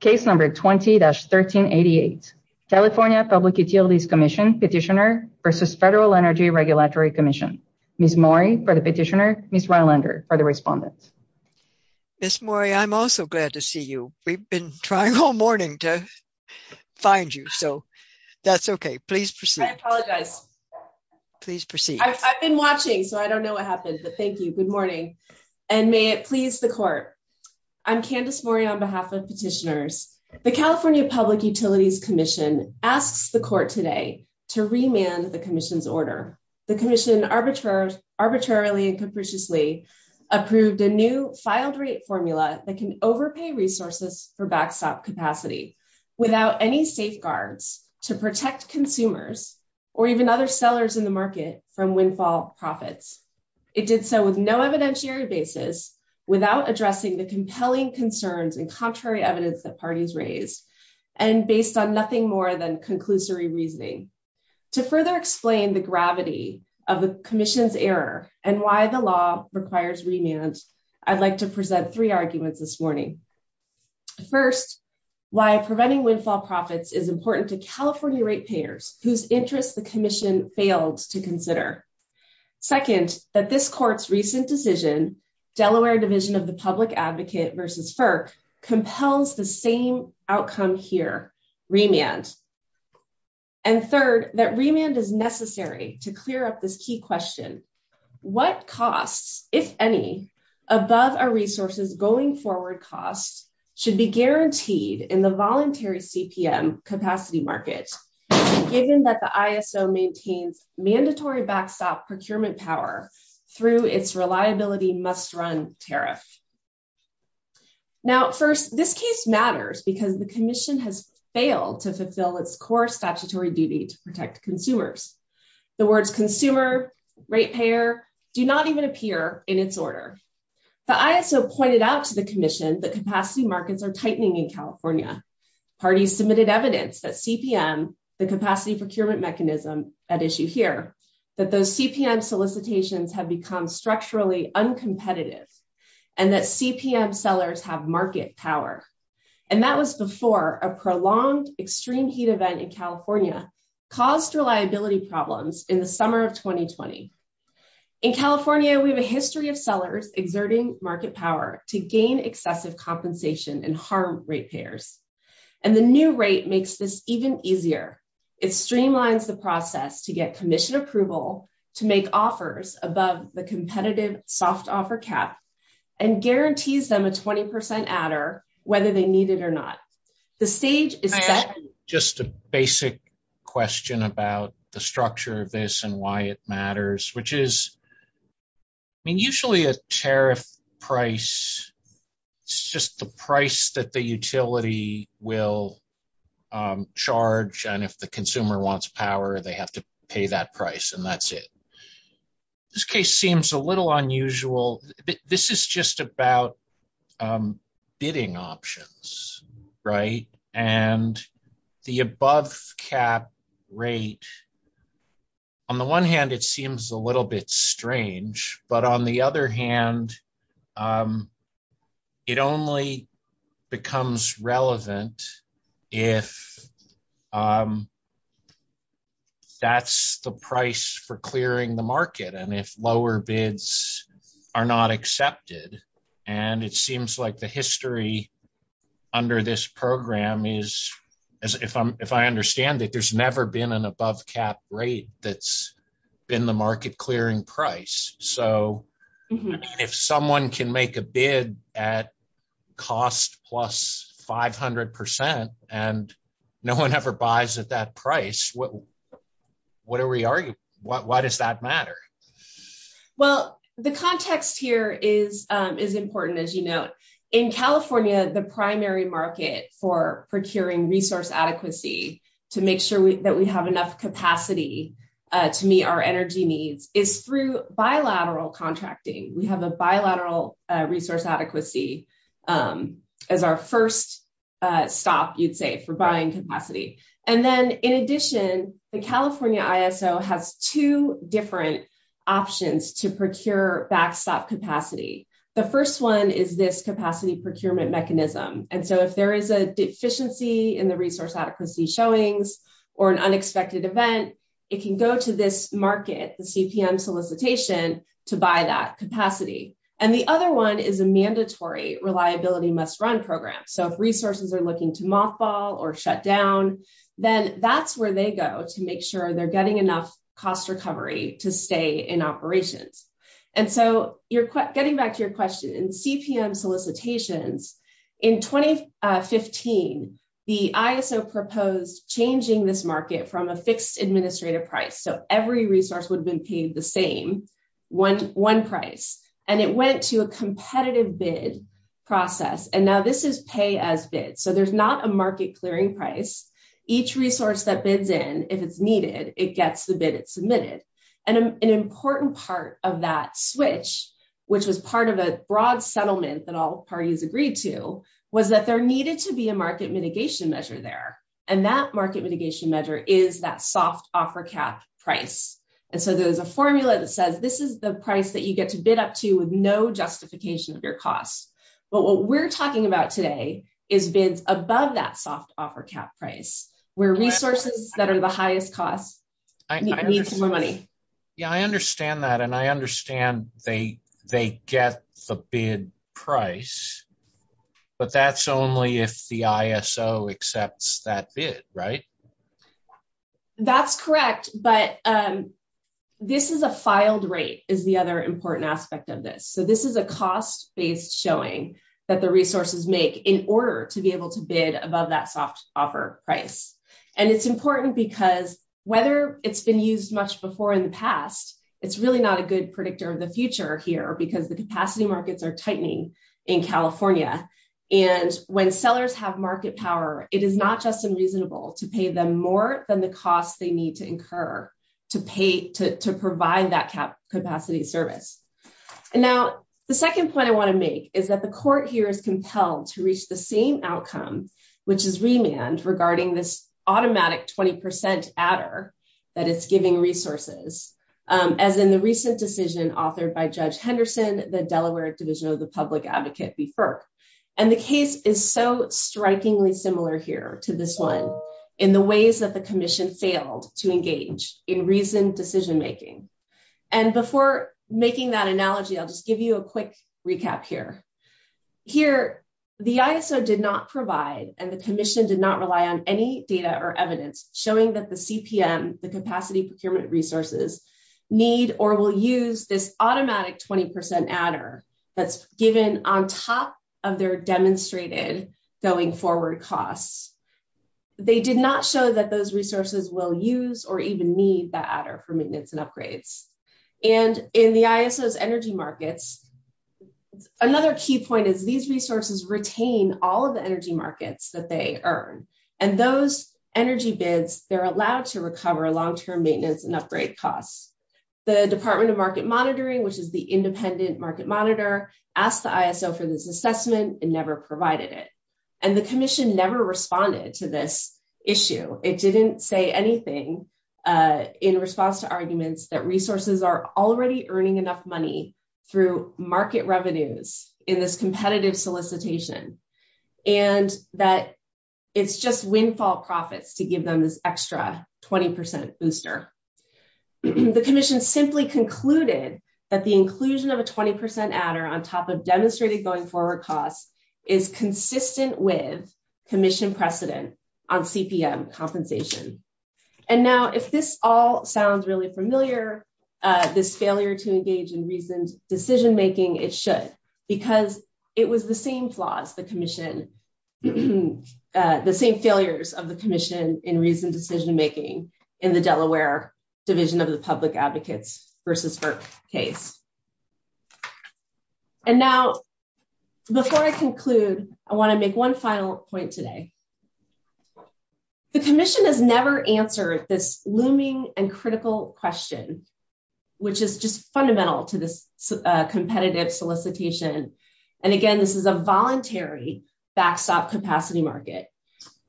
Case number 20-1388. California Public Utilities Commission petitioner versus Federal Energy Regulatory Commission. Ms. Mori for the petitioner, Ms. Rylander for the respondent. Ms. Mori, I'm also glad to see you. We've been trying all morning to find you, so that's okay. Please proceed. I apologize. Please proceed. I've been watching, so I don't know what happened, but thank you. Good morning, and may it please the court. I'm Candace Mori on behalf of petitioners. The California Public Utilities Commission asks the court today to remand the commission's order. The commission arbitrarily and capriciously approved a new filed rate formula that can overpay resources for backstop capacity without any safeguards to protect consumers or even other sellers in the market from windfall profits. It compelling concerns and contrary evidence that parties raised and based on nothing more than conclusory reasoning. To further explain the gravity of the commission's error and why the law requires remand, I'd like to present three arguments this morning. First, why preventing windfall profits is important to California rate payers whose interests the commission failed to advocate versus FERC compels the same outcome here, remand. And third, that remand is necessary to clear up this key question. What costs, if any, above our resources going forward costs should be guaranteed in the voluntary CPM capacity market, given that the ISO maintains mandatory backstop procurement power through its reliability must run tariff. Now, first, this case matters because the commission has failed to fulfill its core statutory duty to protect consumers. The words consumer, rate payer do not even appear in its order. The ISO pointed out to the commission that capacity markets are tightening in California. Parties submitted evidence that CPM, the capacity procurement mechanism at issue here, that those CPM solicitations have become structurally uncompetitive and that CPM sellers have market power. And that was before a prolonged extreme heat event in California caused reliability problems in the summer of 2020. In California, we have a history of sellers exerting market power to gain excessive compensation and harm rate payers. And the new rate makes this even easier. It streamlines the process to get commission approval to make offers above the competitive soft offer cap and guarantees them a 20% adder, whether they need it or not. The stage is set. I have just a basic question about the structure of this and why it matters, which is, I mean, usually a tariff price, it's just the price that the utility will charge. And if the consumer wants power, they have to pay that price and that's it. This case seems a little unusual. This is just about bidding options, right? And the above cap rate, on the one hand, it seems a little bit strange, but on the other hand, it only becomes relevant if that's the price for clearing the market. And if lower bids are not accepted, and it seems like the history under this program is, if I understand it, there's never been an above cap rate that's been the market clearing price. So if someone can make a bid at cost plus 500% and no one ever buys at that price, what are we arguing? Why does that matter? Well, the context here is important, as you know. In California, the primary market for procuring resource adequacy to make sure that we have enough capacity to meet our energy needs is through bilateral contracting. We have a bilateral resource adequacy as our first stop, you'd say, for buying capacity. And then in addition, the California ISO has two different options to procure backstop capacity. The first one is this capacity procurement mechanism. And so if there is a deficiency in the resource adequacy showings or an unexpected event, it can go to this market, the CPM solicitation, to buy that capacity. And the other one is a mandatory reliability must run program. So if resources are looking to mothball or shut down, then that's where they go to make sure they're getting enough cost recovery to stay in operations. And so getting back to your question, in CPM solicitations, in 2015, the ISO proposed changing this market from a fixed administrative price. So every resource would have been paid the same, one price. And it went to a competitive bid process. And now this is pay as bid. So there's not a market clearing price. Each resource that bids in, if it's needed, it gets the bid it which was part of a broad settlement that all parties agreed to, was that there needed to be a market mitigation measure there. And that market mitigation measure is that soft offer cap price. And so there's a formula that says this is the price that you get to bid up to with no justification of your costs. But what we're talking about today is bids above that soft offer cap price, where resources that are the highest cost, I need some more money. Yeah, I understand that. And I understand they get the bid price. But that's only if the ISO accepts that bid, right? That's correct. But this is a filed rate is the other important aspect of this. So this is a cost based showing that the resources make in order to be able to bid above that soft offer price. And it's important because whether it's been used much before in the past, it's really not a good predictor of the future here because the capacity markets are tightening in California. And when sellers have market power, it is not just unreasonable to pay them more than the costs they need to incur to pay to provide that cap capacity service. And now, the second point I want to make is that the court here is compelled to reach the same outcome, which is remand regarding this automatic 20% adder that it's giving resources, as in the recent decision authored by Judge Henderson, the Delaware Division of the Public Advocate before. And the case is so strikingly similar here to this one in the ways that the commission failed to engage in reason decision making. And before making that analogy, I'll just give you a quick recap here. Here, the ISO did not provide and the commission did not rely on any data or evidence showing that the CPM, the capacity procurement resources, need or will use this automatic 20% adder that's given on top of their demonstrated going forward costs. They did not show that those resources will use or even need that adder for maintenance and upgrades. And in the ISO's energy markets, another key point is these resources retain all of the energy markets that they earn. And those energy bids, they're allowed to recover long-term maintenance and upgrade costs. The Department of Market Monitoring, which is the independent market monitor, asked the ISO for this assessment and never provided it. And the commission never responded to this issue. It didn't say anything in response to arguments that resources are already earning enough money through market revenues in this competitive solicitation and that it's just windfall profits to give them this extra 20% booster. The commission simply concluded that the inclusion of a 20% adder on top of demonstrated going forward costs is consistent with commission precedent on CPM compensation. And now if this all sounds really familiar, this failure to engage in reasoned decision-making, it should, because it was the same flaws, the commission, the same failures of the commission in reasoned decision-making in the Delaware Division of the Public Advocates versus FERC case. And now before I conclude, I want to make one final point today. The commission has never answered this looming and critical question, which is just fundamental to this competitive solicitation. And again, this is a voluntary backstop capacity market.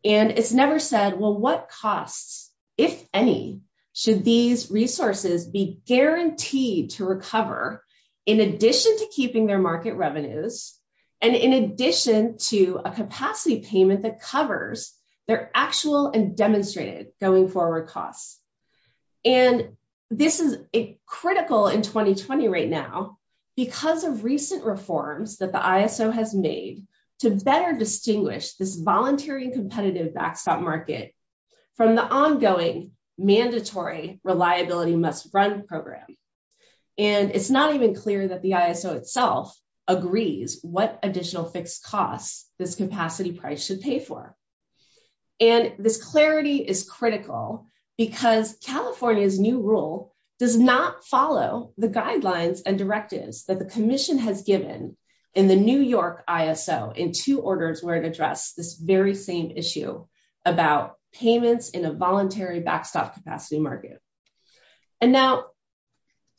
And it's never said, well, what costs, if any, should these resources be guaranteed to recover in addition to keeping their market revenues and in addition to a capacity payment that covers their actual and demonstrated going forward costs. And this is critical in 2020 right now because of recent reforms that the ISO has made to better distinguish this voluntary and competitive backstop market from the ongoing mandatory reliability must run program. And it's not even clear that the ISO itself agrees what additional fixed costs this capacity price should pay for. And this clarity is critical because California's new rule does not follow the guidelines and directives that the commission has given in the New York ISO in two orders where it addressed this very same issue about payments in a voluntary backstop capacity market. And now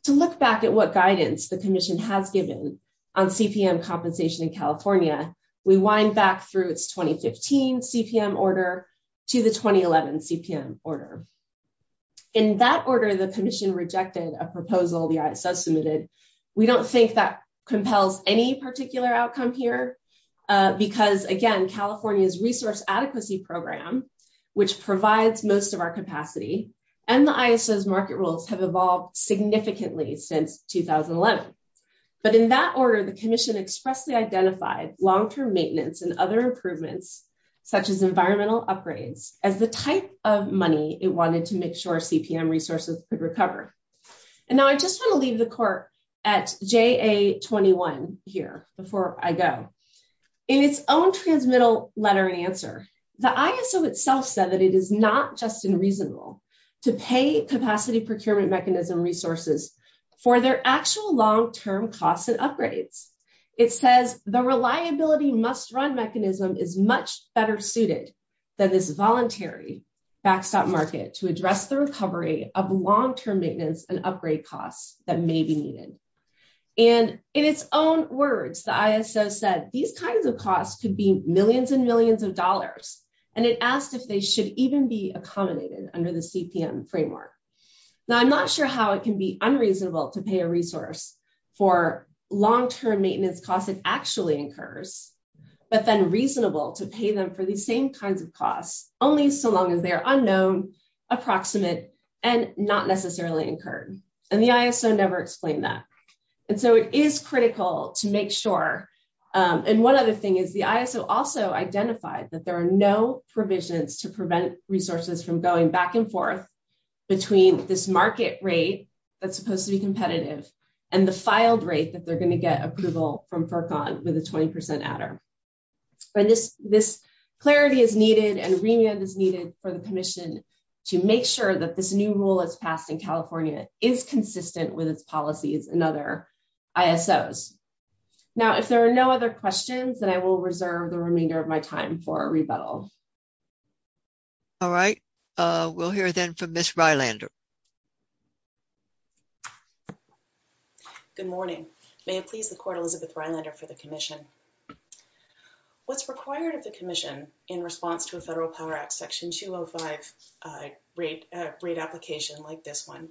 to look back at what guidance the commission has given on CPM compensation in California, we wind back through its 2015 CPM order to the 2011 CPM order. In that order, the commission rejected a proposal the ISO submitted. We don't think that compels any particular outcome here because again, California's resource adequacy program, which provides most of capacity and the ISO's market rules have evolved significantly since 2011. But in that order, the commission expressly identified long-term maintenance and other improvements such as environmental upgrades as the type of money it wanted to make sure CPM resources could recover. And now I just want to leave the court at JA21 here before I go. In its own transmittal letter and answer, the ISO itself said that it is not just unreasonable to pay capacity procurement mechanism resources for their actual long-term costs and upgrades. It says the reliability must run mechanism is much better suited than this voluntary backstop market to address the recovery of long-term maintenance and upgrade costs that may be needed. And in its own words, the ISO said these kinds of costs could be millions and millions of dollars, and it asked if they should even be accommodated under the CPM framework. Now I'm not sure how it can be unreasonable to pay a resource for long-term maintenance costs it actually incurs, but then reasonable to pay them for these same kinds of costs only so long as they are unknown, approximate, and not necessarily incurred. And the ISO never explained that. And so it is critical to make sure. And one other thing is the ISO also identified that there are no provisions to prevent resources from going back and forth between this market rate that's supposed to be competitive and the filed rate that they're going to get approval from FERCON with a 20% adder. But this clarity is needed and remand is needed for the commission to make sure that this new rule is passed in California is consistent with its policies and other ISOs. Now if there are no other questions then I will reserve the remainder of my time for a rebuttal. All right, we'll hear then from Ms. Rylander. Good morning. May it please the court Elizabeth Rylander for the commission. What's required of the commission in response to a Federal Power Act Section 205 rate application like this one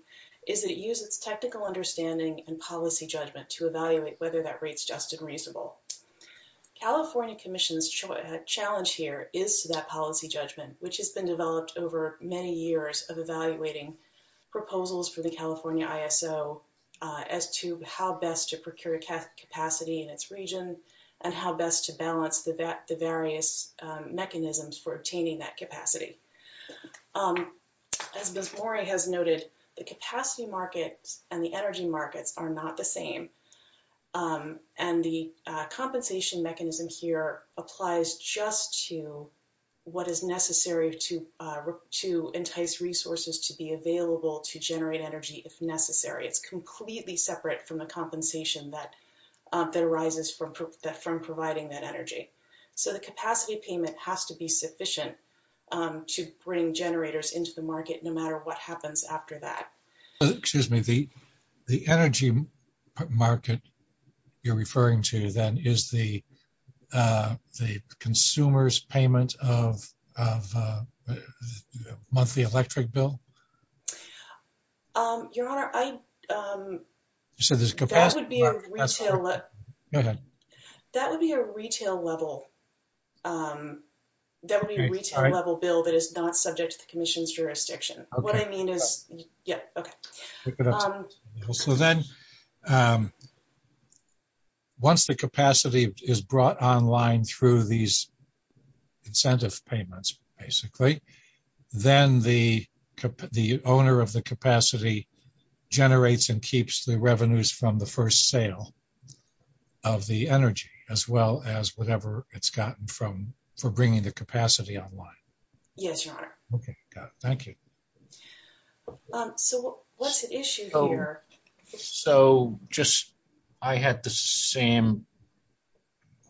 is it uses technical understanding and policy judgment to evaluate whether that rate's just and reasonable. California Commission's challenge here is that policy judgment which has been developed over many years of evaluating proposals for the California ISO as to how best to procure capacity in its region and how best to balance the various mechanisms for obtaining that capacity. As Ms. Mori has noted the capacity markets and the energy markets are not the same and the compensation mechanism here applies just to what is necessary to entice resources to be that arises from providing that energy. So the capacity payment has to be sufficient to bring generators into the market no matter what happens after that. Excuse me, the energy market you're referring to then is the consumer's payment of the monthly electric bill? Your Honor, that would be a retail level bill that is not subject to the commission's jurisdiction. Once the capacity is brought online through these incentive payments basically, then the owner of the capacity generates and keeps the revenues from the first sale of the energy as well as whatever it's gotten from for bringing the capacity online. Yes, Your Honor. Okay, got it. Thank you. So what's the issue here? So just I had the same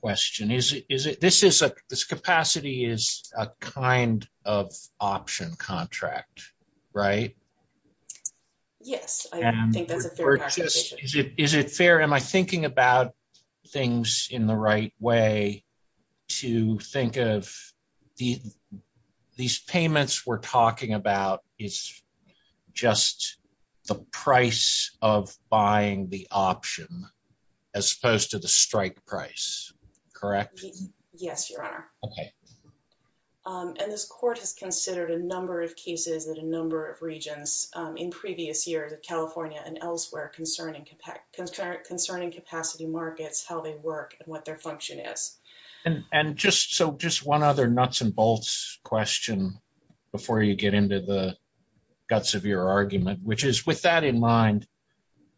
question. This capacity is a kind of option contract. Right? Yes, I think that's a fair question. Is it fair? Am I thinking about things in the right way to think of these payments we're talking about is just the price of buying the option as opposed to the strike price, correct? Yes, Your Honor. Okay. And this court has considered a number of cases at a number of regions in previous years of California and elsewhere concerning capacity markets, how they work and what their function is. And just one other nuts and bolts question before you get into the guts of your argument, which is with that in mind,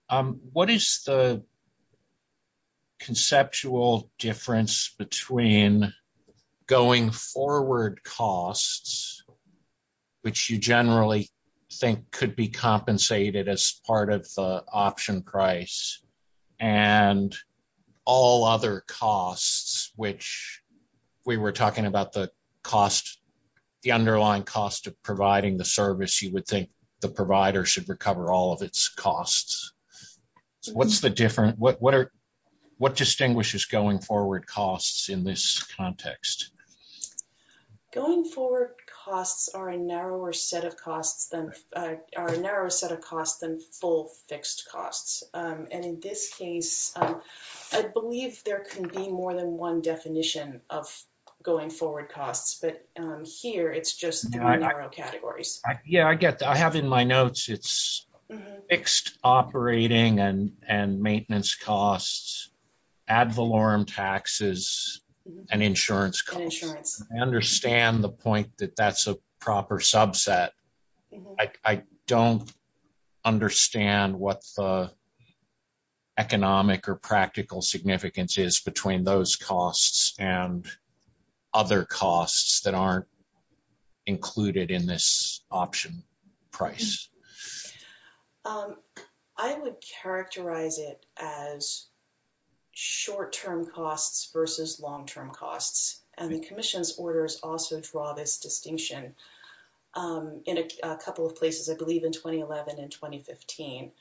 what is the conceptual difference between going forward costs, which you generally think could be compensated as part of the option price and all other costs, which we were talking about the underlying cost of providing the service you would think the provider should recover all of its costs. What's the difference? What distinguishes going forward costs in this context? Going forward costs are a narrower set of costs than full fixed costs. And in this case, I believe there can be more than one definition of going forward costs, but here it's just narrow categories. Yeah, I get that. I have in my notes, it's fixed operating and maintenance costs, ad valorem taxes, and insurance costs. I understand the point that that's a proper subset. I don't understand what the economic or practical significance is between those costs and other costs that aren't included in this option price. I would characterize it as short-term costs versus long-term costs. And the commission's orders also draw this distinction in a couple of places, I believe in 2011 and 2015.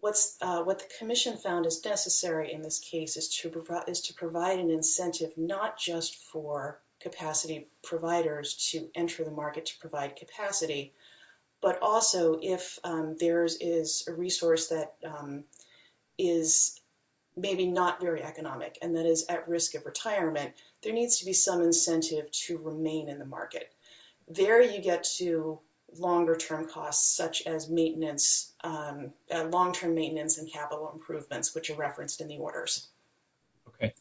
What the commission found is necessary in this case is to provide an incentive not just for capacity providers to enter the market to provide capacity, but also if there is a resource that is maybe not very economic and that is at risk of retirement, there needs to be some incentive to remain in the market. There you get to longer term costs such as maintenance, long-term maintenance and capital improvements, which are referenced in the orders. Okay.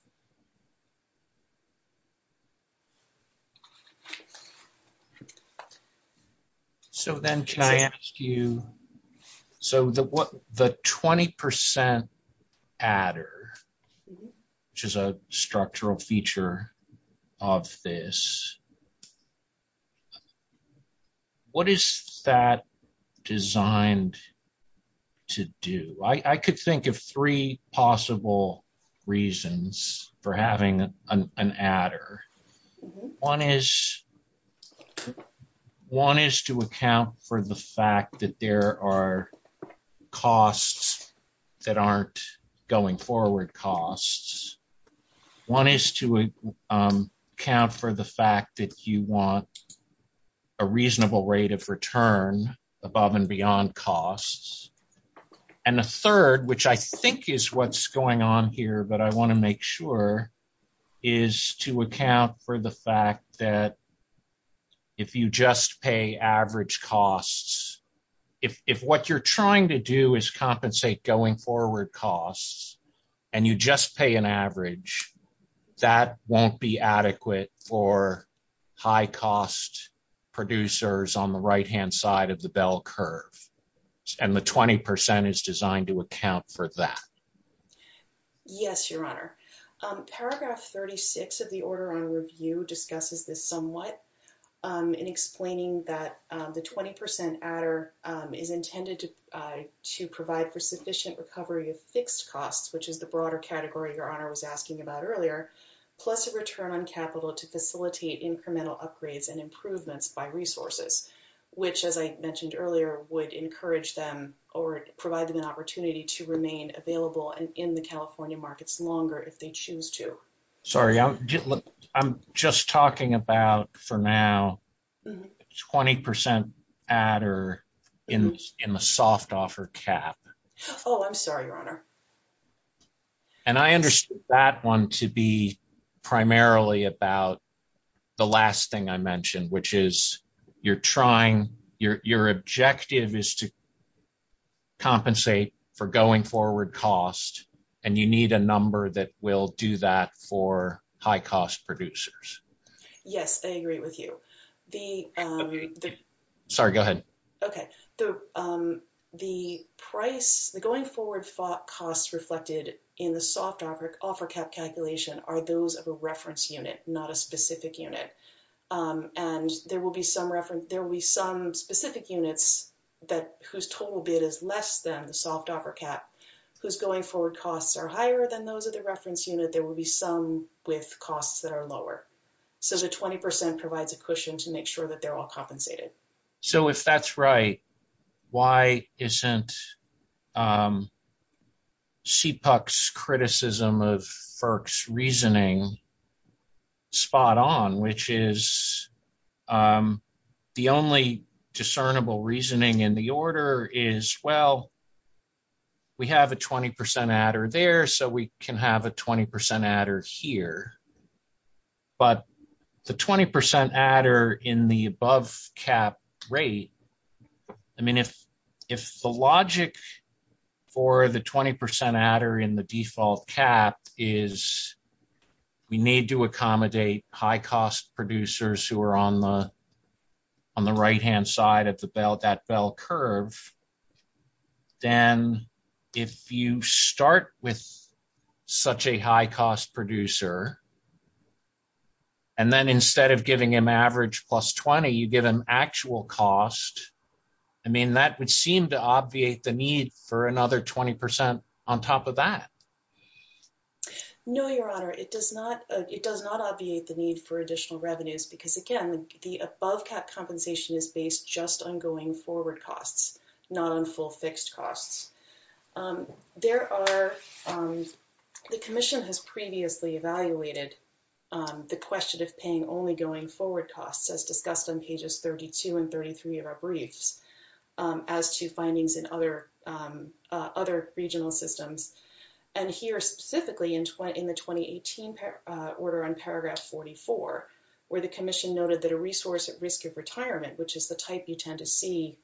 So then can I ask you, so the 20% adder, which is a structural feature of this, what is that designed to do? I could think of three possible reasons for having an adder. One is to account for the fact that there are costs that aren't going forward costs. One is to account for the fact that you want a reasonable rate of return above and beyond costs. And the third, which I think is what's going on here, but I want to make sure, is to account for the fact that if you just pay average costs, if what you're trying to do is compensate going forward costs and you just pay an average, that won't be adequate for high cost producers on the right-hand side of the bell curve. And the 20% is designed to account for that. Yes, Your Honor. Paragraph 36 of the order on review discusses this somewhat in explaining that the 20% adder is intended to provide for sufficient recovery of fixed costs, which is the broader category Your Honor was asking about earlier, plus a return on capital to facilitate incremental upgrades and improvements by resources, which as I mentioned earlier would encourage them or provide them an opportunity to remain available in the California markets longer if they choose to. Sorry, I'm just talking about for now 20% adder in the soft offer cap. Oh, I'm sorry, Your Honor. And I understood that one to be primarily about the last thing I mentioned, which is you're trying, your objective is to that will do that for high cost producers. Yes, I agree with you. Sorry, go ahead. Okay. The going forward costs reflected in the soft offer cap calculation are those of a reference unit, not a specific unit. And there will be some specific units whose total bid is less than the reference unit. There will be some with costs that are lower. So the 20% provides a cushion to make sure that they're all compensated. So if that's right, why isn't CPUC's criticism of FERC's reasoning spot on, which is the only discernible reasoning in the order is, well, we have a 20% adder there, so we can have a 20% adder here. But the 20% adder in the above cap rate, I mean, if the logic for the 20% adder in the default cap is we need to accommodate high cost producers who are on the right-hand side of that bell curve, then if you start with such a high cost producer, and then instead of giving him average plus 20, you give him actual cost, I mean, that would seem to obviate the need for another 20% on top of that. No, Your Honor. It does not obviate the need for additional revenues because, again, the above cap compensation is based just on going forward costs, not on full fixed costs. The Commission has previously evaluated the question of paying only going forward costs, as discussed on pages 32 and 33 of our briefs, as to findings in other regional systems. And here, specifically in the 2018 order on paragraph 44, where the Commission noted that a resource at risk of retirement, which is the type you tend to see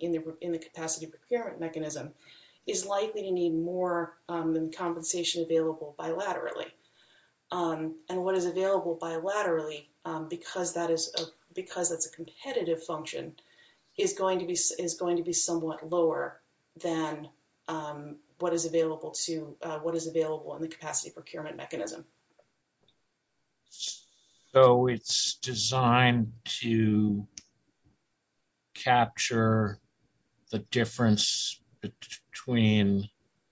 in the capacity procurement mechanism, is likely to need more than compensation available bilaterally. And what is available bilaterally, because that's a competitive function, is going to be somewhat lower than what is available in the capacity procurement mechanism. So it's designed to capture the difference between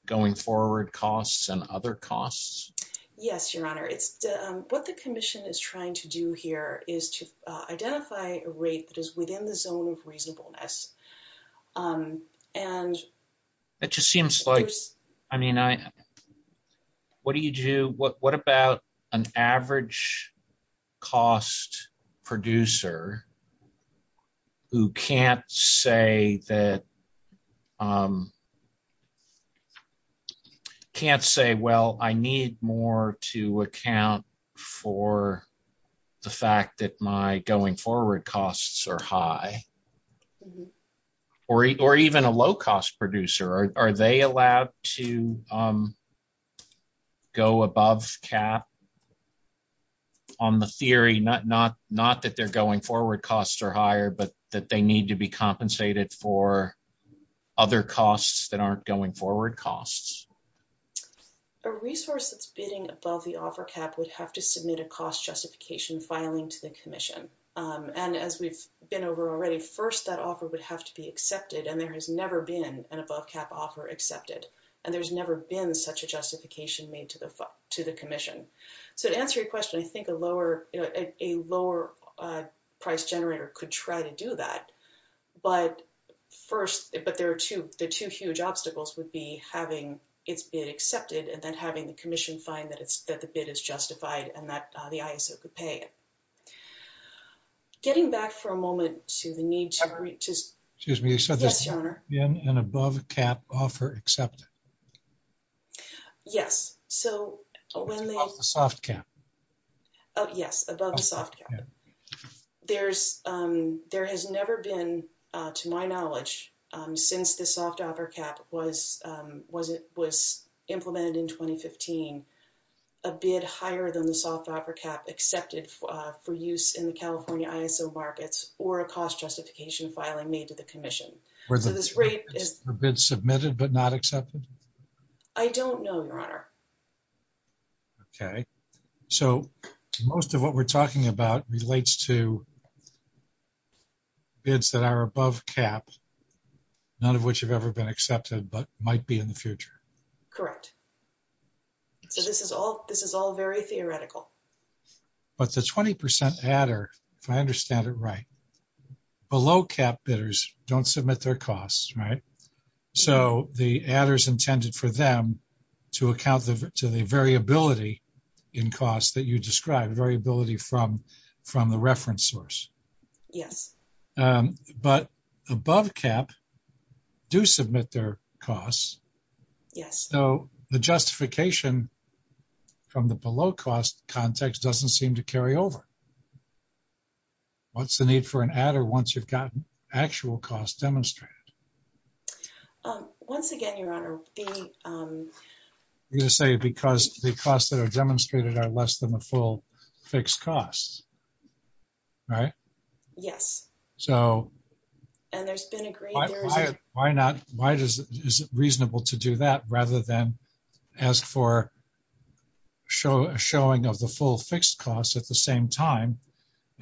going forward costs and other costs? Yes, Your Honor. What the Commission is trying to do here is to identify a rate that is within the zone of reasonableness. It just seems like, I mean, what do you do, what about an average cost producer who can't say, well, I need more to account for the fact that my going forward costs are high? Or even a low cost producer, are they allowed to go above cap on the theory, not that they're going forward costs are higher, but that they need to be compensated for other costs that aren't going forward costs? A resource that's bidding above the offer cap would have to submit a cost justification filing to the Commission. And as we've been over already, first, that offer would have to be accepted. And there has never been an above cap offer accepted. And there's never been such a justification made to the Commission. So to answer your question, I think a lower price generator could try to do that. But first, the two huge obstacles would be having its bid accepted and then having the Commission find that the bid is justified and that the ISO could pay it. Getting back for a moment to the need to just... Excuse me, you said there's been an above cap offer accepted? Yes. So when they... Above the soft cap. Yes, above the soft cap. There has never been, to my knowledge, since the soft offer cap was was implemented in 2015, a bid higher than the soft offer cap accepted for use in the California ISO markets or a cost justification filing made to the Commission. So this rate is... Have bids submitted but not accepted? I don't know, Your Honor. Okay. So most of what we're talking about relates to bids that are above cap, none of which have ever been accepted but might be in the future. Correct. So this is all very theoretical. But the 20% adder, if I understand it right, below cap bidders don't submit their costs, right? So the adder's intended for them to account to the variability in cost that you described, variability from the reference source. Yes. But above cap do submit their costs. Yes. So the justification from the below cost context doesn't seem to carry over. What's the need for an adder once you've gotten actual costs demonstrated? Once again, Your Honor, the... You're going to say because the costs that are demonstrated are less than the full fixed costs, right? Yes. So... And there's been a great... Why is it reasonable to do that rather than ask for a showing of the full fixed costs at the same time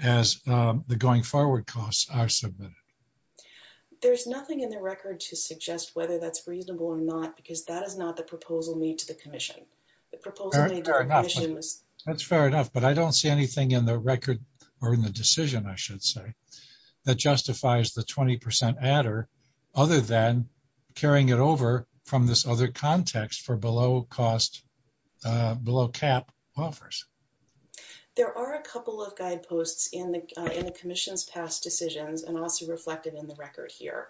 as the going forward costs are submitted? There's nothing in the record to suggest whether that's reasonable or not, because that is not the proposal made to the Commission. The proposal made to the Commission was... I should say, that justifies the 20% adder other than carrying it over from this other context for below cost, below cap offers. There are a couple of guideposts in the Commission's past decisions and also reflected in the record here.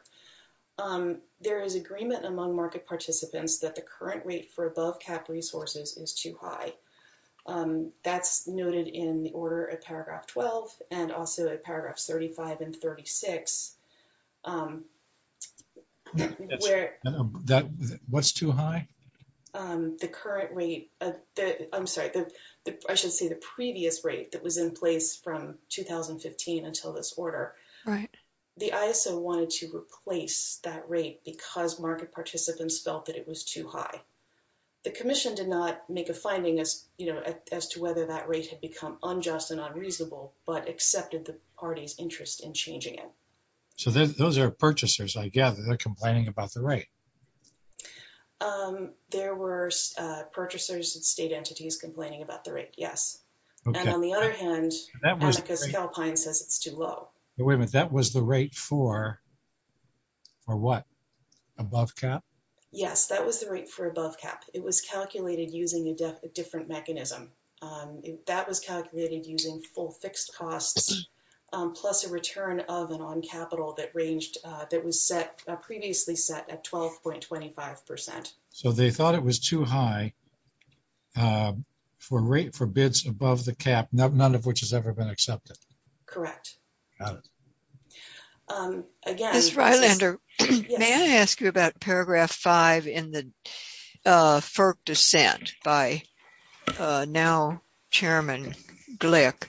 There is agreement among market participants that the current rate for above cap resources is too high. And that's noted in the order of paragraph 12 and also at paragraph 35 and 36. What's too high? The current rate... I'm sorry. I should say the previous rate that was in place from 2015 until this order. Right. The ISO wanted to replace that rate because market participants felt that it was too high. The Commission did not make a finding as to whether that rate had become unjust and unreasonable, but accepted the party's interest in changing it. So those are purchasers, I gather. They're complaining about the rate. There were purchasers and state entities complaining about the rate, yes. And on the other hand, Atticus Alpine says it's too low. Wait a minute. That was the rate for what? Above cap? Yes, that was the rate for above cap. It was calculated using a different mechanism. That was calculated using full fixed costs plus a return of an on capital that was previously set at 12.25%. So they thought it was too high for rate for bids above the cap, none of which has ever been accepted. Correct. Got it. Ms. Rylander, may I ask you about paragraph 5 in the FERC dissent by now Chairman Glick?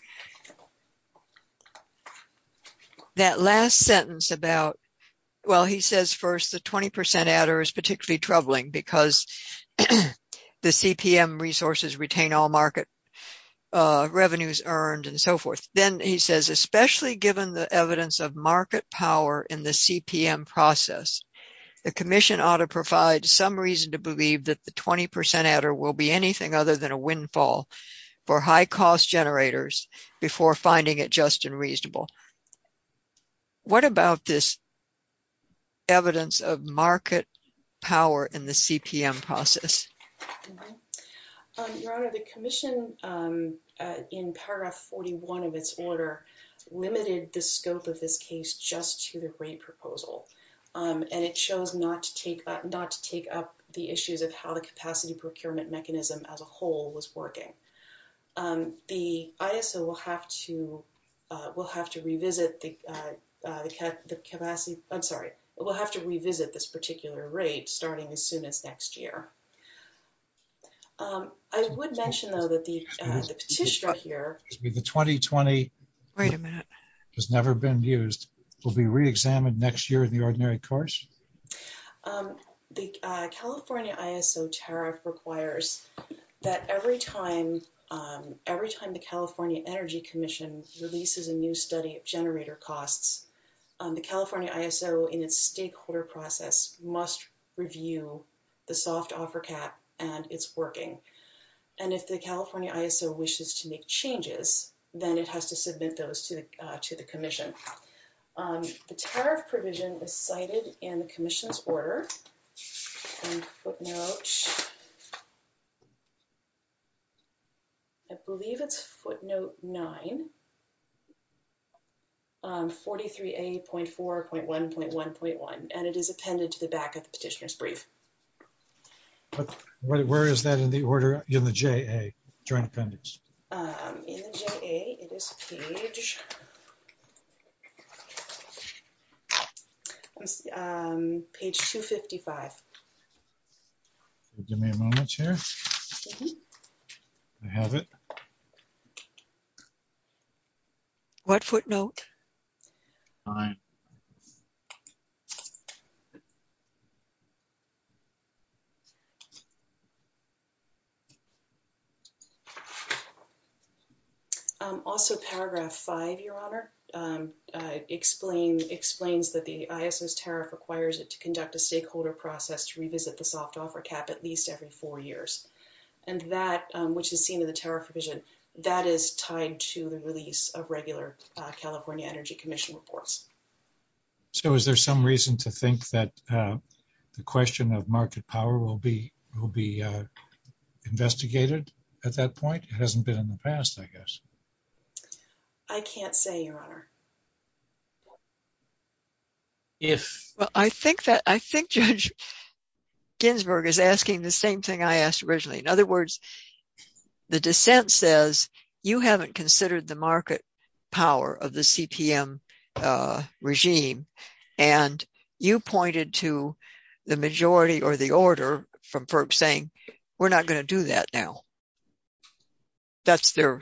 That last sentence about, well, he says first the 20% adder is particularly troubling because the CPM resources retain all market revenues earned and so forth. Then he says especially given the evidence of market power in the CPM process, the commission ought to provide some reason to believe that the 20% adder will be anything other than a windfall for high cost generators before finding it just and reasonable. What about this evidence of market power in the CPM process? Your Honor, the commission in paragraph 41 of its order limited the scope of this case just to the rate proposal. And it chose not to take up the issues of how the capacity procurement mechanism as a whole was working. The ISO will have to revisit the capacity, I'm sorry, will have to revisit this particular rate starting as soon as next year. I would mention though that the petitioner here, the 2020 has never been used, will be reexamined next year in the ordinary course. The California ISO tariff requires that every time the California Energy Commission releases a new study of generator costs, the California ISO in its stakeholder process must review the soft offer cap and it's working. And if the California ISO wishes to make changes, then it has to submit those to the commission. The tariff provision is cited in the commission's order. I believe it's footnote 9, 43A.4.1.1.1. And it is appended to the back of the petitioner's brief. But where is that in the order, in the JA, joint appendix? In the JA, it is page 255. Give me a moment here. I have it. What footnote? 9. Also paragraph 5, Your Honor, explains that the ISO's tariff requires it to conduct a stakeholder process to revisit the soft offer cap at least every four years. And that, which is seen in the tariff provision, that is tied to the release of regular California Energy Commission reports. So is there some reason to think that the question of market power will be investigated at that point? It hasn't been in the past, I guess. I can't say, Your Honor. Well, I think that, I think Judge Ginsburg is asking the same thing I asked originally. In other words, the dissent says, you haven't considered the market power of the CPM regime. And you pointed to the majority or the order from FERP saying, we're not going to do that now. That's their,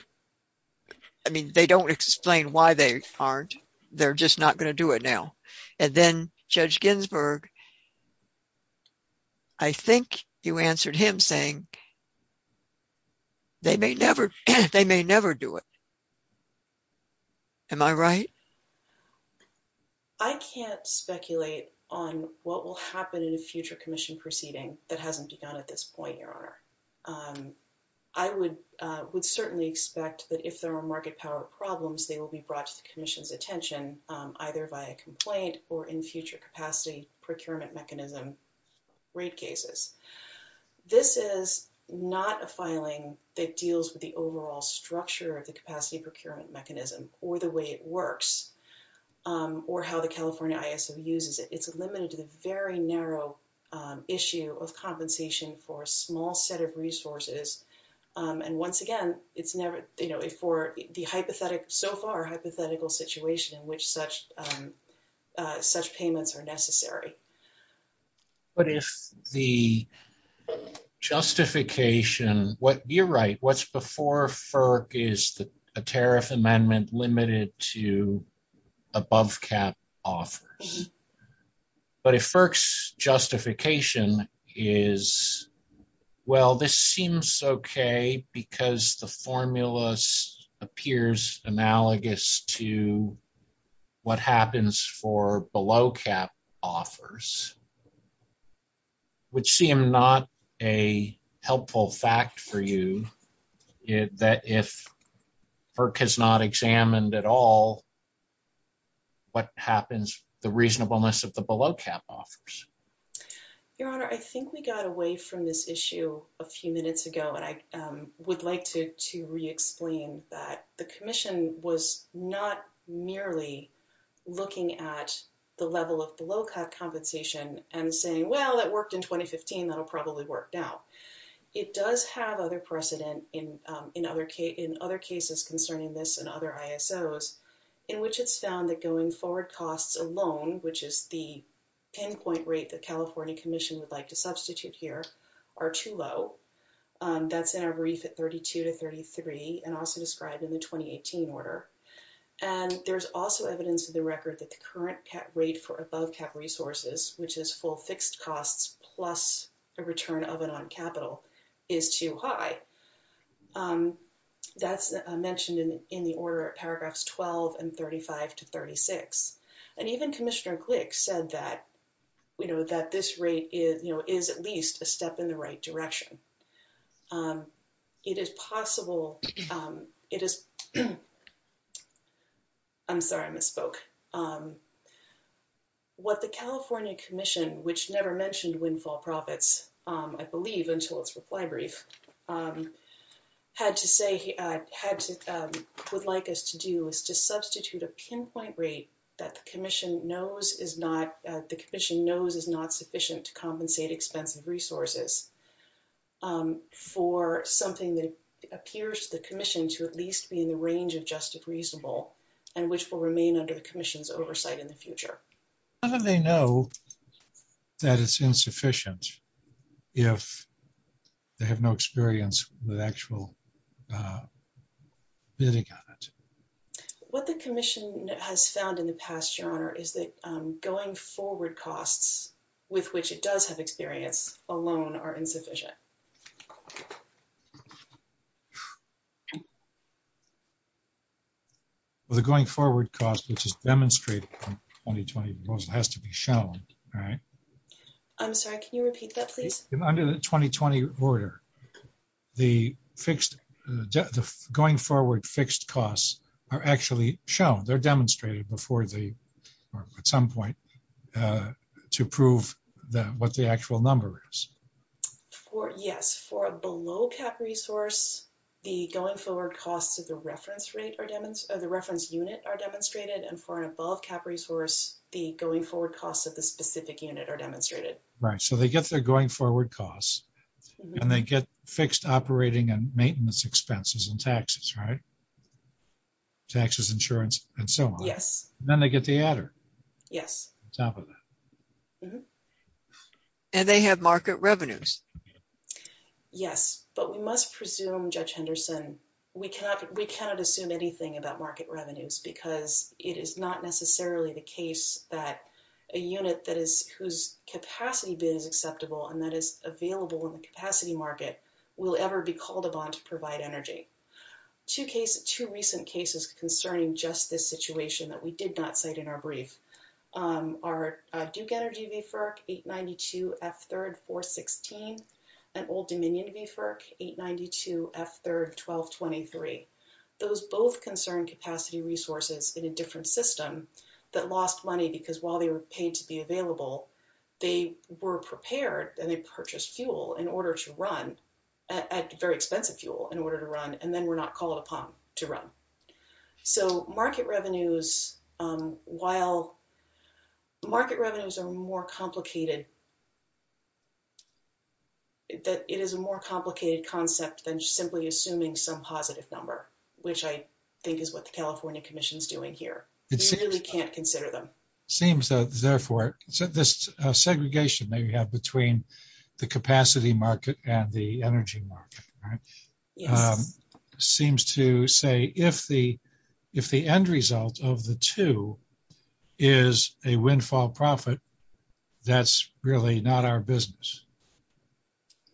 I mean, they don't explain why they aren't. They're just not going to do it now. And then Judge Ginsburg, I think you answered him saying, they may never do it. Am I right? I can't speculate on what will happen in a future commission proceeding that hasn't begun at this point, Your Honor. I would certainly expect that if there are market power problems, they will be brought to the commission's attention, either by a complaint or in future capacity procurement mechanism rate cases. This is not a filing that deals with the overall structure of the capacity procurement mechanism or the way it works or how the California ISO uses it. It's limited to the very narrow issue of compensation for a small set of resources. And once again, it's never, you know, for the hypothetical, so far, hypothetical situation in which such payments are necessary. But if the justification, you're right, what's before FERC is a tariff amendment limited to above cap offers. But if FERC's justification is, well, this seems okay because the formulas appears analogous to what happens for below cap offers, which seem not a helpful fact for you, that if FERC has not examined at all what happens, the reasonableness of the below cap offers. Your Honor, I think we got away from this issue a few minutes ago, and I would like to re-explain that the commission was not merely looking at the level of below cap compensation and saying, well, that worked in 2015, that'll probably work now. It does have other precedent in other cases concerning this and other ISOs in which it's found that going forward costs alone, which is the pinpoint rate the California commission would like to substitute here, are too low. That's in our brief at 32 to 33 and also described in the 2018 order. And there's also evidence of the record that the current rate for above cap resources, which is full fixed costs plus a return of it on capital, is too high. That's mentioned in the order of paragraphs 12 and 35 to 36. And even Commissioner Glick said that this rate is at least a step in the right direction. I'm sorry, I misspoke. What the California commission, which never mentioned windfall profits, I believe until its reply brief, would like us to do is to substitute a pinpoint rate that the commission knows is not sufficient to compensate expensive resources. For something that appears to the commission to at least be in the range of just and reasonable and which will remain under the commission's oversight in the future. How do they know that it's insufficient if they have no experience with actual bidding on it? What the commission has found in the past, Your Honor, is that going forward costs with which it does have experience alone are insufficient. I'm sorry, can you repeat that, please? Under the 2020 order, the going forward fixed costs are actually shown. They're demonstrated at some point to prove what the actual number is. For, yes, for a below cap resource, the going forward costs of the reference rate are demonstrated, the reference unit are demonstrated, and for an above cap resource, the going forward costs of the specific unit are demonstrated. Right, so they get their going forward costs and they get fixed operating and maintenance expenses and taxes, right? Taxes, insurance, and so on. Yes. Then they get the adder. Yes. Top of that. And they have market revenues. Yes, but we must presume, Judge Henderson, we cannot assume anything about market revenues because it is not necessarily the case that a unit whose capacity bid is acceptable and that is available in the capacity market will ever be called upon to provide energy. Two recent cases concerning just this situation that we did not cite in our brief. Our Duke Energy VFERC, 892F3R416, and Old Dominion VFERC, 892F3R1223, those both concern capacity resources in a different system that lost money because while they were paid to be available, they were prepared and they purchased fuel in order to run, very expensive fuel in order to run, and then were not called upon to run. So market revenues, while market revenues are more complicated, that it is a more complicated concept than just simply assuming some positive number, which I think is what the California Commission is doing here. We really can't consider them. Seems that, therefore, this segregation that you have between the capacity market and the if the end result of the two is a windfall profit, that's really not our business.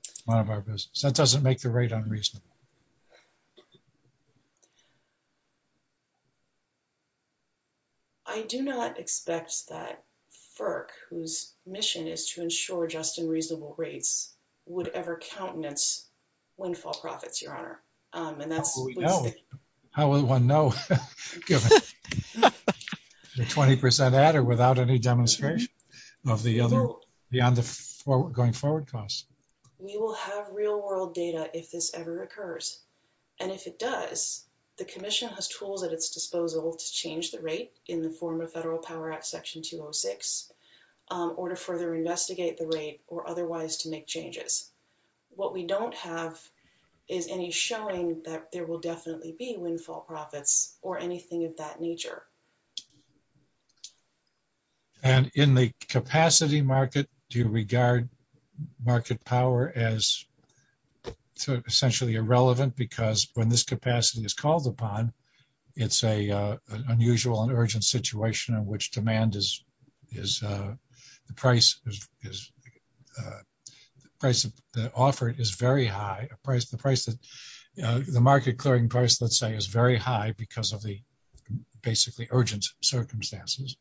It's none of our business. That doesn't make the rate unreasonable. I do not expect that FERC, whose mission is to ensure just and reasonable rates, would ever countenance windfall profits, Your Honor. And that's what we know. How will one know, given the 20% ad or without any demonstration of the other, beyond the going forward costs? We will have real world data if this ever occurs. And if it does, the Commission has tools at its disposal to change the rate in the form of Federal Power Act Section 206, or to further investigate the rate or otherwise to make changes. What we don't have is any showing that there will definitely be windfall profits or anything of that nature. And in the capacity market, do you regard market power as essentially irrelevant because when this capacity is called upon, it's an unusual and urgent situation in which demand is, the price offered is very high. The market clearing price, let's say, is very high because of the basically urgent circumstances.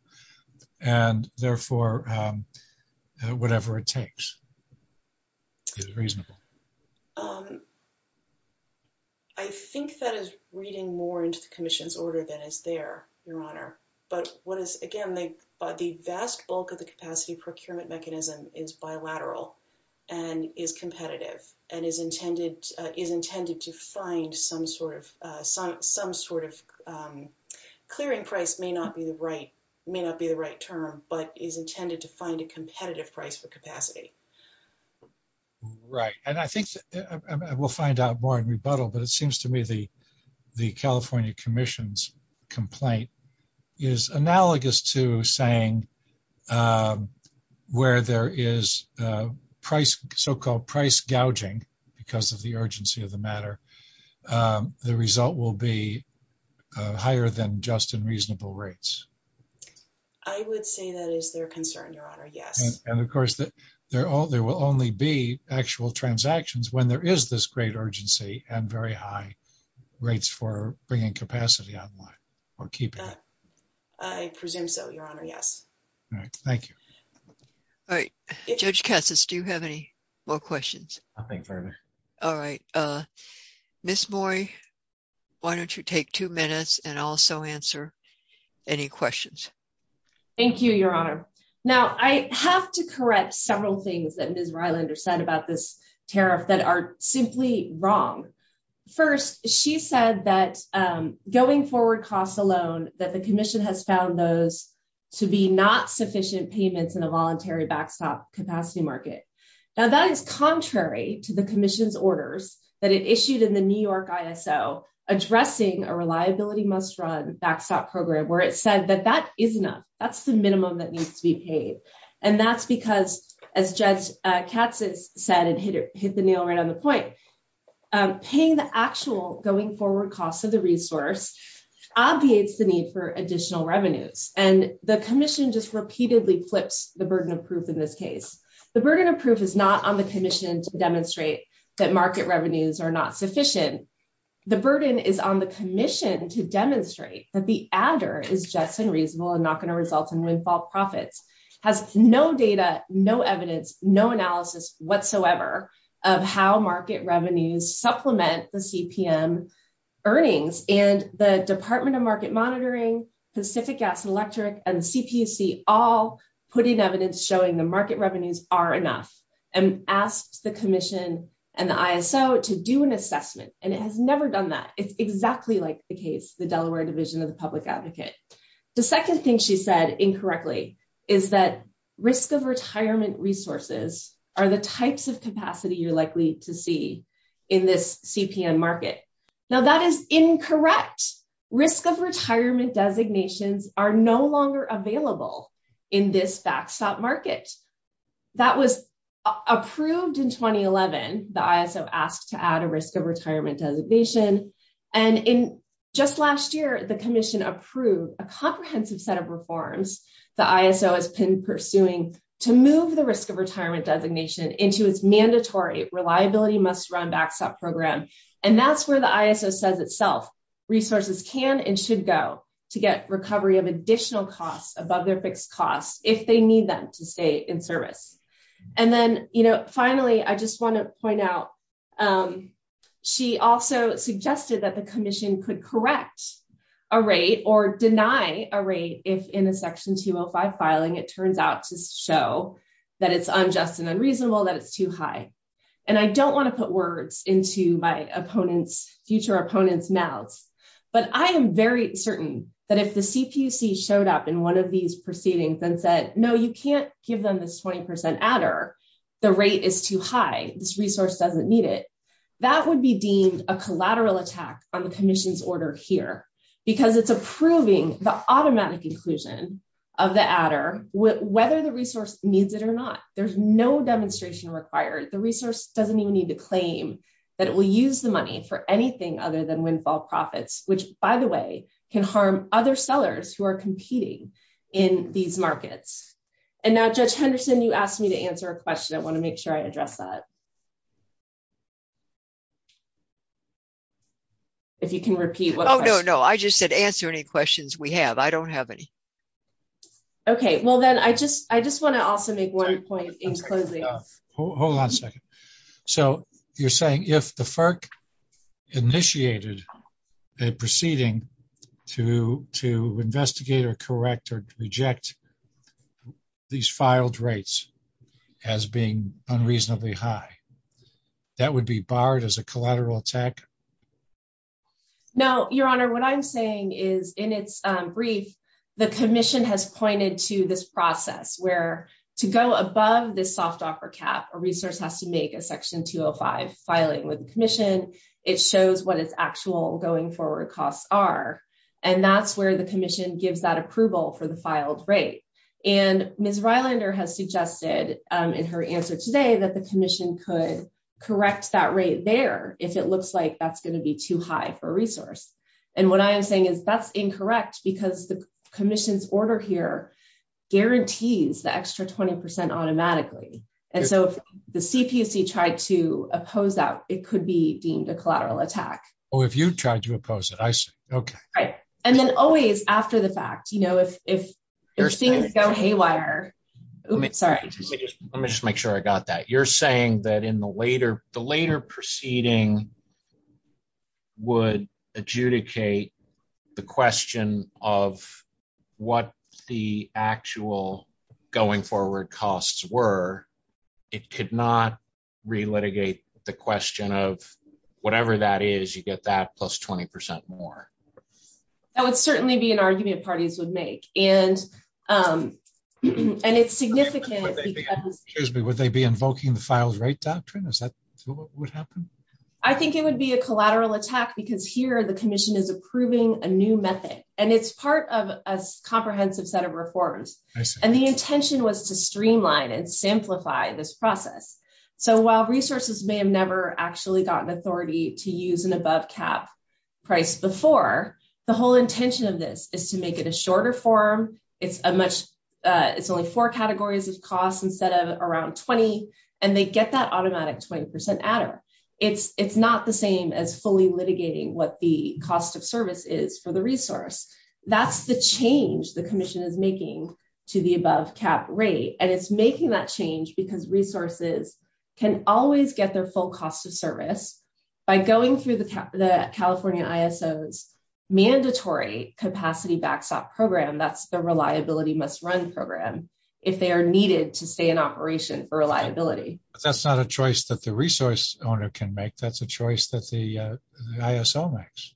And therefore, whatever it takes is reasonable. Um, I think that is reading more into the Commission's order than is there, Your Honor. But what is, again, the vast bulk of the capacity procurement mechanism is bilateral and is competitive and is intended to find some sort of clearing price may not be the right term, but is intended to find a competitive price for capacity. Right. And I think we'll find out more in rebuttal, but it seems to me the, the California Commission's complaint is analogous to saying, um, where there is a price, so-called price gouging because of the urgency of the matter. Um, the result will be higher than just in reasonable rates. I would say that is their concern, Your Honor. Yes. And of course, there will only be actual transactions when there is this great urgency and very high rates for bringing capacity online or keeping it. I presume so, Your Honor. Yes. All right. Thank you. All right. Judge Cassis, do you have any more questions? Nothing further. All right. Uh, Ms. Moy, why don't you take two minutes and also answer any questions? Thank you, Your Honor. Now, I have to correct several things that Ms. Rylander said about this tariff that are simply wrong. First, she said that, um, going forward costs alone, that the commission has found those to be not sufficient payments in a voluntary backstop capacity market. Now that is contrary to the commission's orders that it issued in the New Year. That's the minimum that needs to be paid. And that's because, as Judge Cassis said and hit it, hit the nail right on the point, um, paying the actual going forward costs of the resource obviates the need for additional revenues. And the commission just repeatedly flips the burden of proof in this case. The burden of proof is not on the commission to demonstrate that market revenues are not sufficient. The burden is on the commission to demonstrate that the adder is just unreasonable and not going to result in windfall profits, has no data, no evidence, no analysis whatsoever of how market revenues supplement the CPM earnings. And the Department of Market Monitoring, Pacific Gas and Electric, and CPC all put in evidence showing the market revenues are enough and asked the commission and the ISO to do an assessment. And it has never done that. It's second thing she said incorrectly is that risk of retirement resources are the types of capacity you're likely to see in this CPM market. Now that is incorrect. Risk of retirement designations are no longer available in this backstop market. That was approved in 2011. The ISO asked to add a risk retirement designation. And in just last year, the commission approved a comprehensive set of reforms the ISO has been pursuing to move the risk of retirement designation into its mandatory reliability must run backstop program. And that's where the ISO says itself, resources can and should go to get recovery of additional costs above their fixed costs if they need them to stay in service. And then, you know, finally, I just want to point out, she also suggested that the commission could correct a rate or deny a rate if in a section 205 filing, it turns out to show that it's unjust and unreasonable that it's too high. And I don't want to put words into my opponent's future opponent's mouths. But I am very certain that if the CPC showed up in one of these proceedings and said, no, you can't give them this 20% adder, the rate is too high, this resource doesn't need it, that would be deemed a collateral attack on the commission's order here, because it's approving the automatic inclusion of the adder, whether the resource needs it or not, there's no demonstration required, the resource doesn't even need to claim that it will use the money for anything other than And now, Judge Henderson, you asked me to answer a question, I want to make sure I address that. If you can repeat, oh, no, no, I just said answer any questions we have, I don't have any. Okay, well, then I just I just want to also make one point in closing. Hold on a second. So you're saying if the FERC initiated a proceeding to to investigate or correct reject these filed rates as being unreasonably high, that would be barred as a collateral attack? No, Your Honor, what I'm saying is, in its brief, the commission has pointed to this process where to go above this soft offer cap, a resource has to make a section 205 filing with the commission, it shows what its actual going forward costs are. And that's where the commission gives that filed rate. And Ms. Rylander has suggested in her answer today that the commission could correct that rate there, if it looks like that's going to be too high for resource. And what I'm saying is that's incorrect, because the commission's order here guarantees the extra 20% automatically. And so if the CPC tried to oppose that, it could be deemed a collateral attack. Oh, if you tried to oppose it, I see. Okay. Right. And then always after the fact, you know, if things go haywire. Let me just make sure I got that you're saying that in the later the later proceeding would adjudicate the question of what the actual going forward costs were, it could not relitigate the question of whatever that is, you get that plus 20% more. That would certainly be an argument parties would make. And, and it's significant. Excuse me, would they be invoking the files rate doctrine? Is that what would happen? I think it would be a collateral attack, because here the commission is approving a new method. And it's part of a comprehensive set of reforms. And the intention was to streamline and simplify this process. So while resources may have never actually gotten authority to use an above cap price before, the whole intention of this is to make it a shorter form, it's a much, it's only four categories of costs instead of around 20. And they get that automatic 20% adder. It's it's not the same as fully litigating what the cost of service is for the resource. That's the change the commission is making to the above cap rate. And it's making that change because resources can always get their full cost of service by going through the California ISO's mandatory capacity backstop program, that's the reliability must run program, if they are needed to stay in operation for reliability. That's not a choice that the resource owner can make. That's a choice that the ISO makes.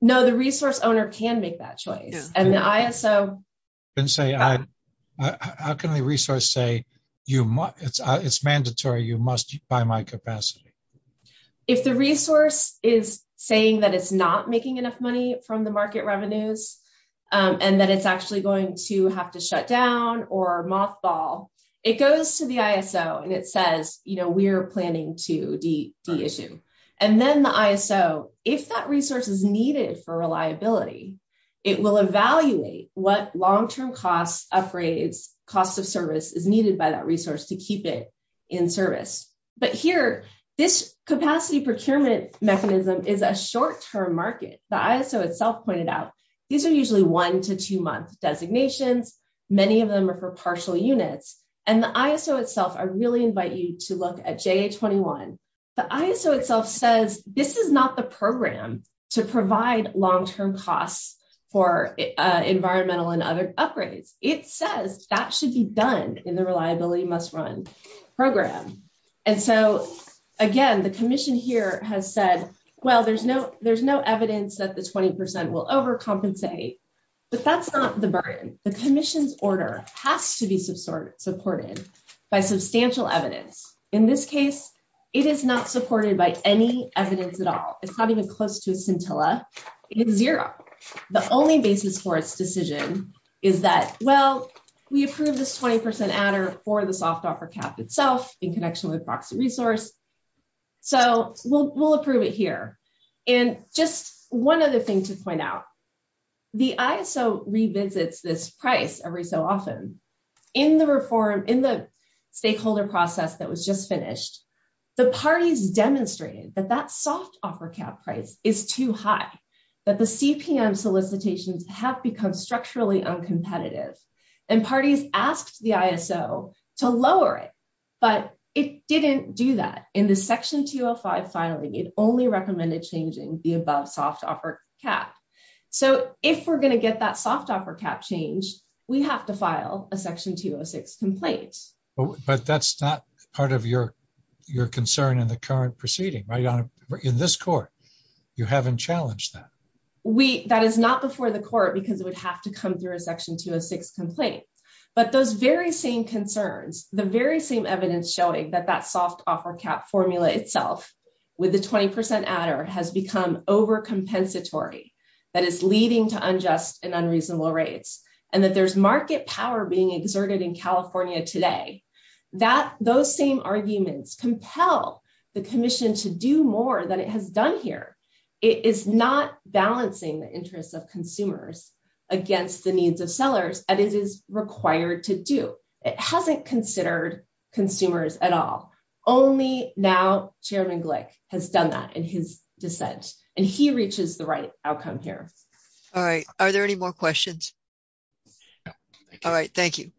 No, the resource owner can make that choice. And the ISO can say, I, how can the resource say, you must, it's, it's mandatory, you must buy my capacity. If the resource is saying that it's not making enough money from the market revenues, and that it's actually going to have to shut down or mothball, it goes to the ISO. And it says, you know, we're planning to de-issue. And then the ISO, if that resource is needed for reliability, it will evaluate what long-term costs, upgrades, cost of service is needed by that resource to keep it in service. But here, this capacity procurement mechanism is a short-term market. The ISO itself pointed out, these are usually one to two month designations. Many of them are for partial units. And the ISO itself, I really invite you to look at JA-21. The ISO itself says, this is not the to provide long-term costs for environmental and other upgrades. It says that should be done in the reliability must run program. And so again, the commission here has said, well, there's no, there's no evidence that the 20% will overcompensate, but that's not the burden. The commission's order has to be supported by substantial evidence. In this case, it is not close to a scintilla. It is zero. The only basis for its decision is that, well, we approve this 20% adder for the soft offer cap itself in connection with proxy resource. So we'll approve it here. And just one other thing to point out, the ISO revisits this price every so often. In the reform, in the stakeholder process that was just finished, the parties demonstrated that soft offer cap price is too high, that the CPM solicitations have become structurally uncompetitive and parties asked the ISO to lower it, but it didn't do that. In the section 205 filing, it only recommended changing the above soft offer cap. So if we're going to get that soft offer cap change, we have to file a section 206 complaint. But that's not part of your, your concern in the current proceeding, right? In this court, you haven't challenged that. We, that is not before the court because it would have to come through a section 206 complaint, but those very same concerns, the very same evidence showing that that soft offer cap formula itself with the 20% adder has become overcompensatory, that is leading to unjust and unreasonable rates, and that there's market power being exerted in California today. That, those same arguments compel the commission to do more than it has done here. It is not balancing the interests of consumers against the needs of sellers and it is required to do. It hasn't considered consumers at all. Only now Chairman Glick has done that in his dissent and he reaches the right outcome here. All right. Are there any more questions? All right. Thank you.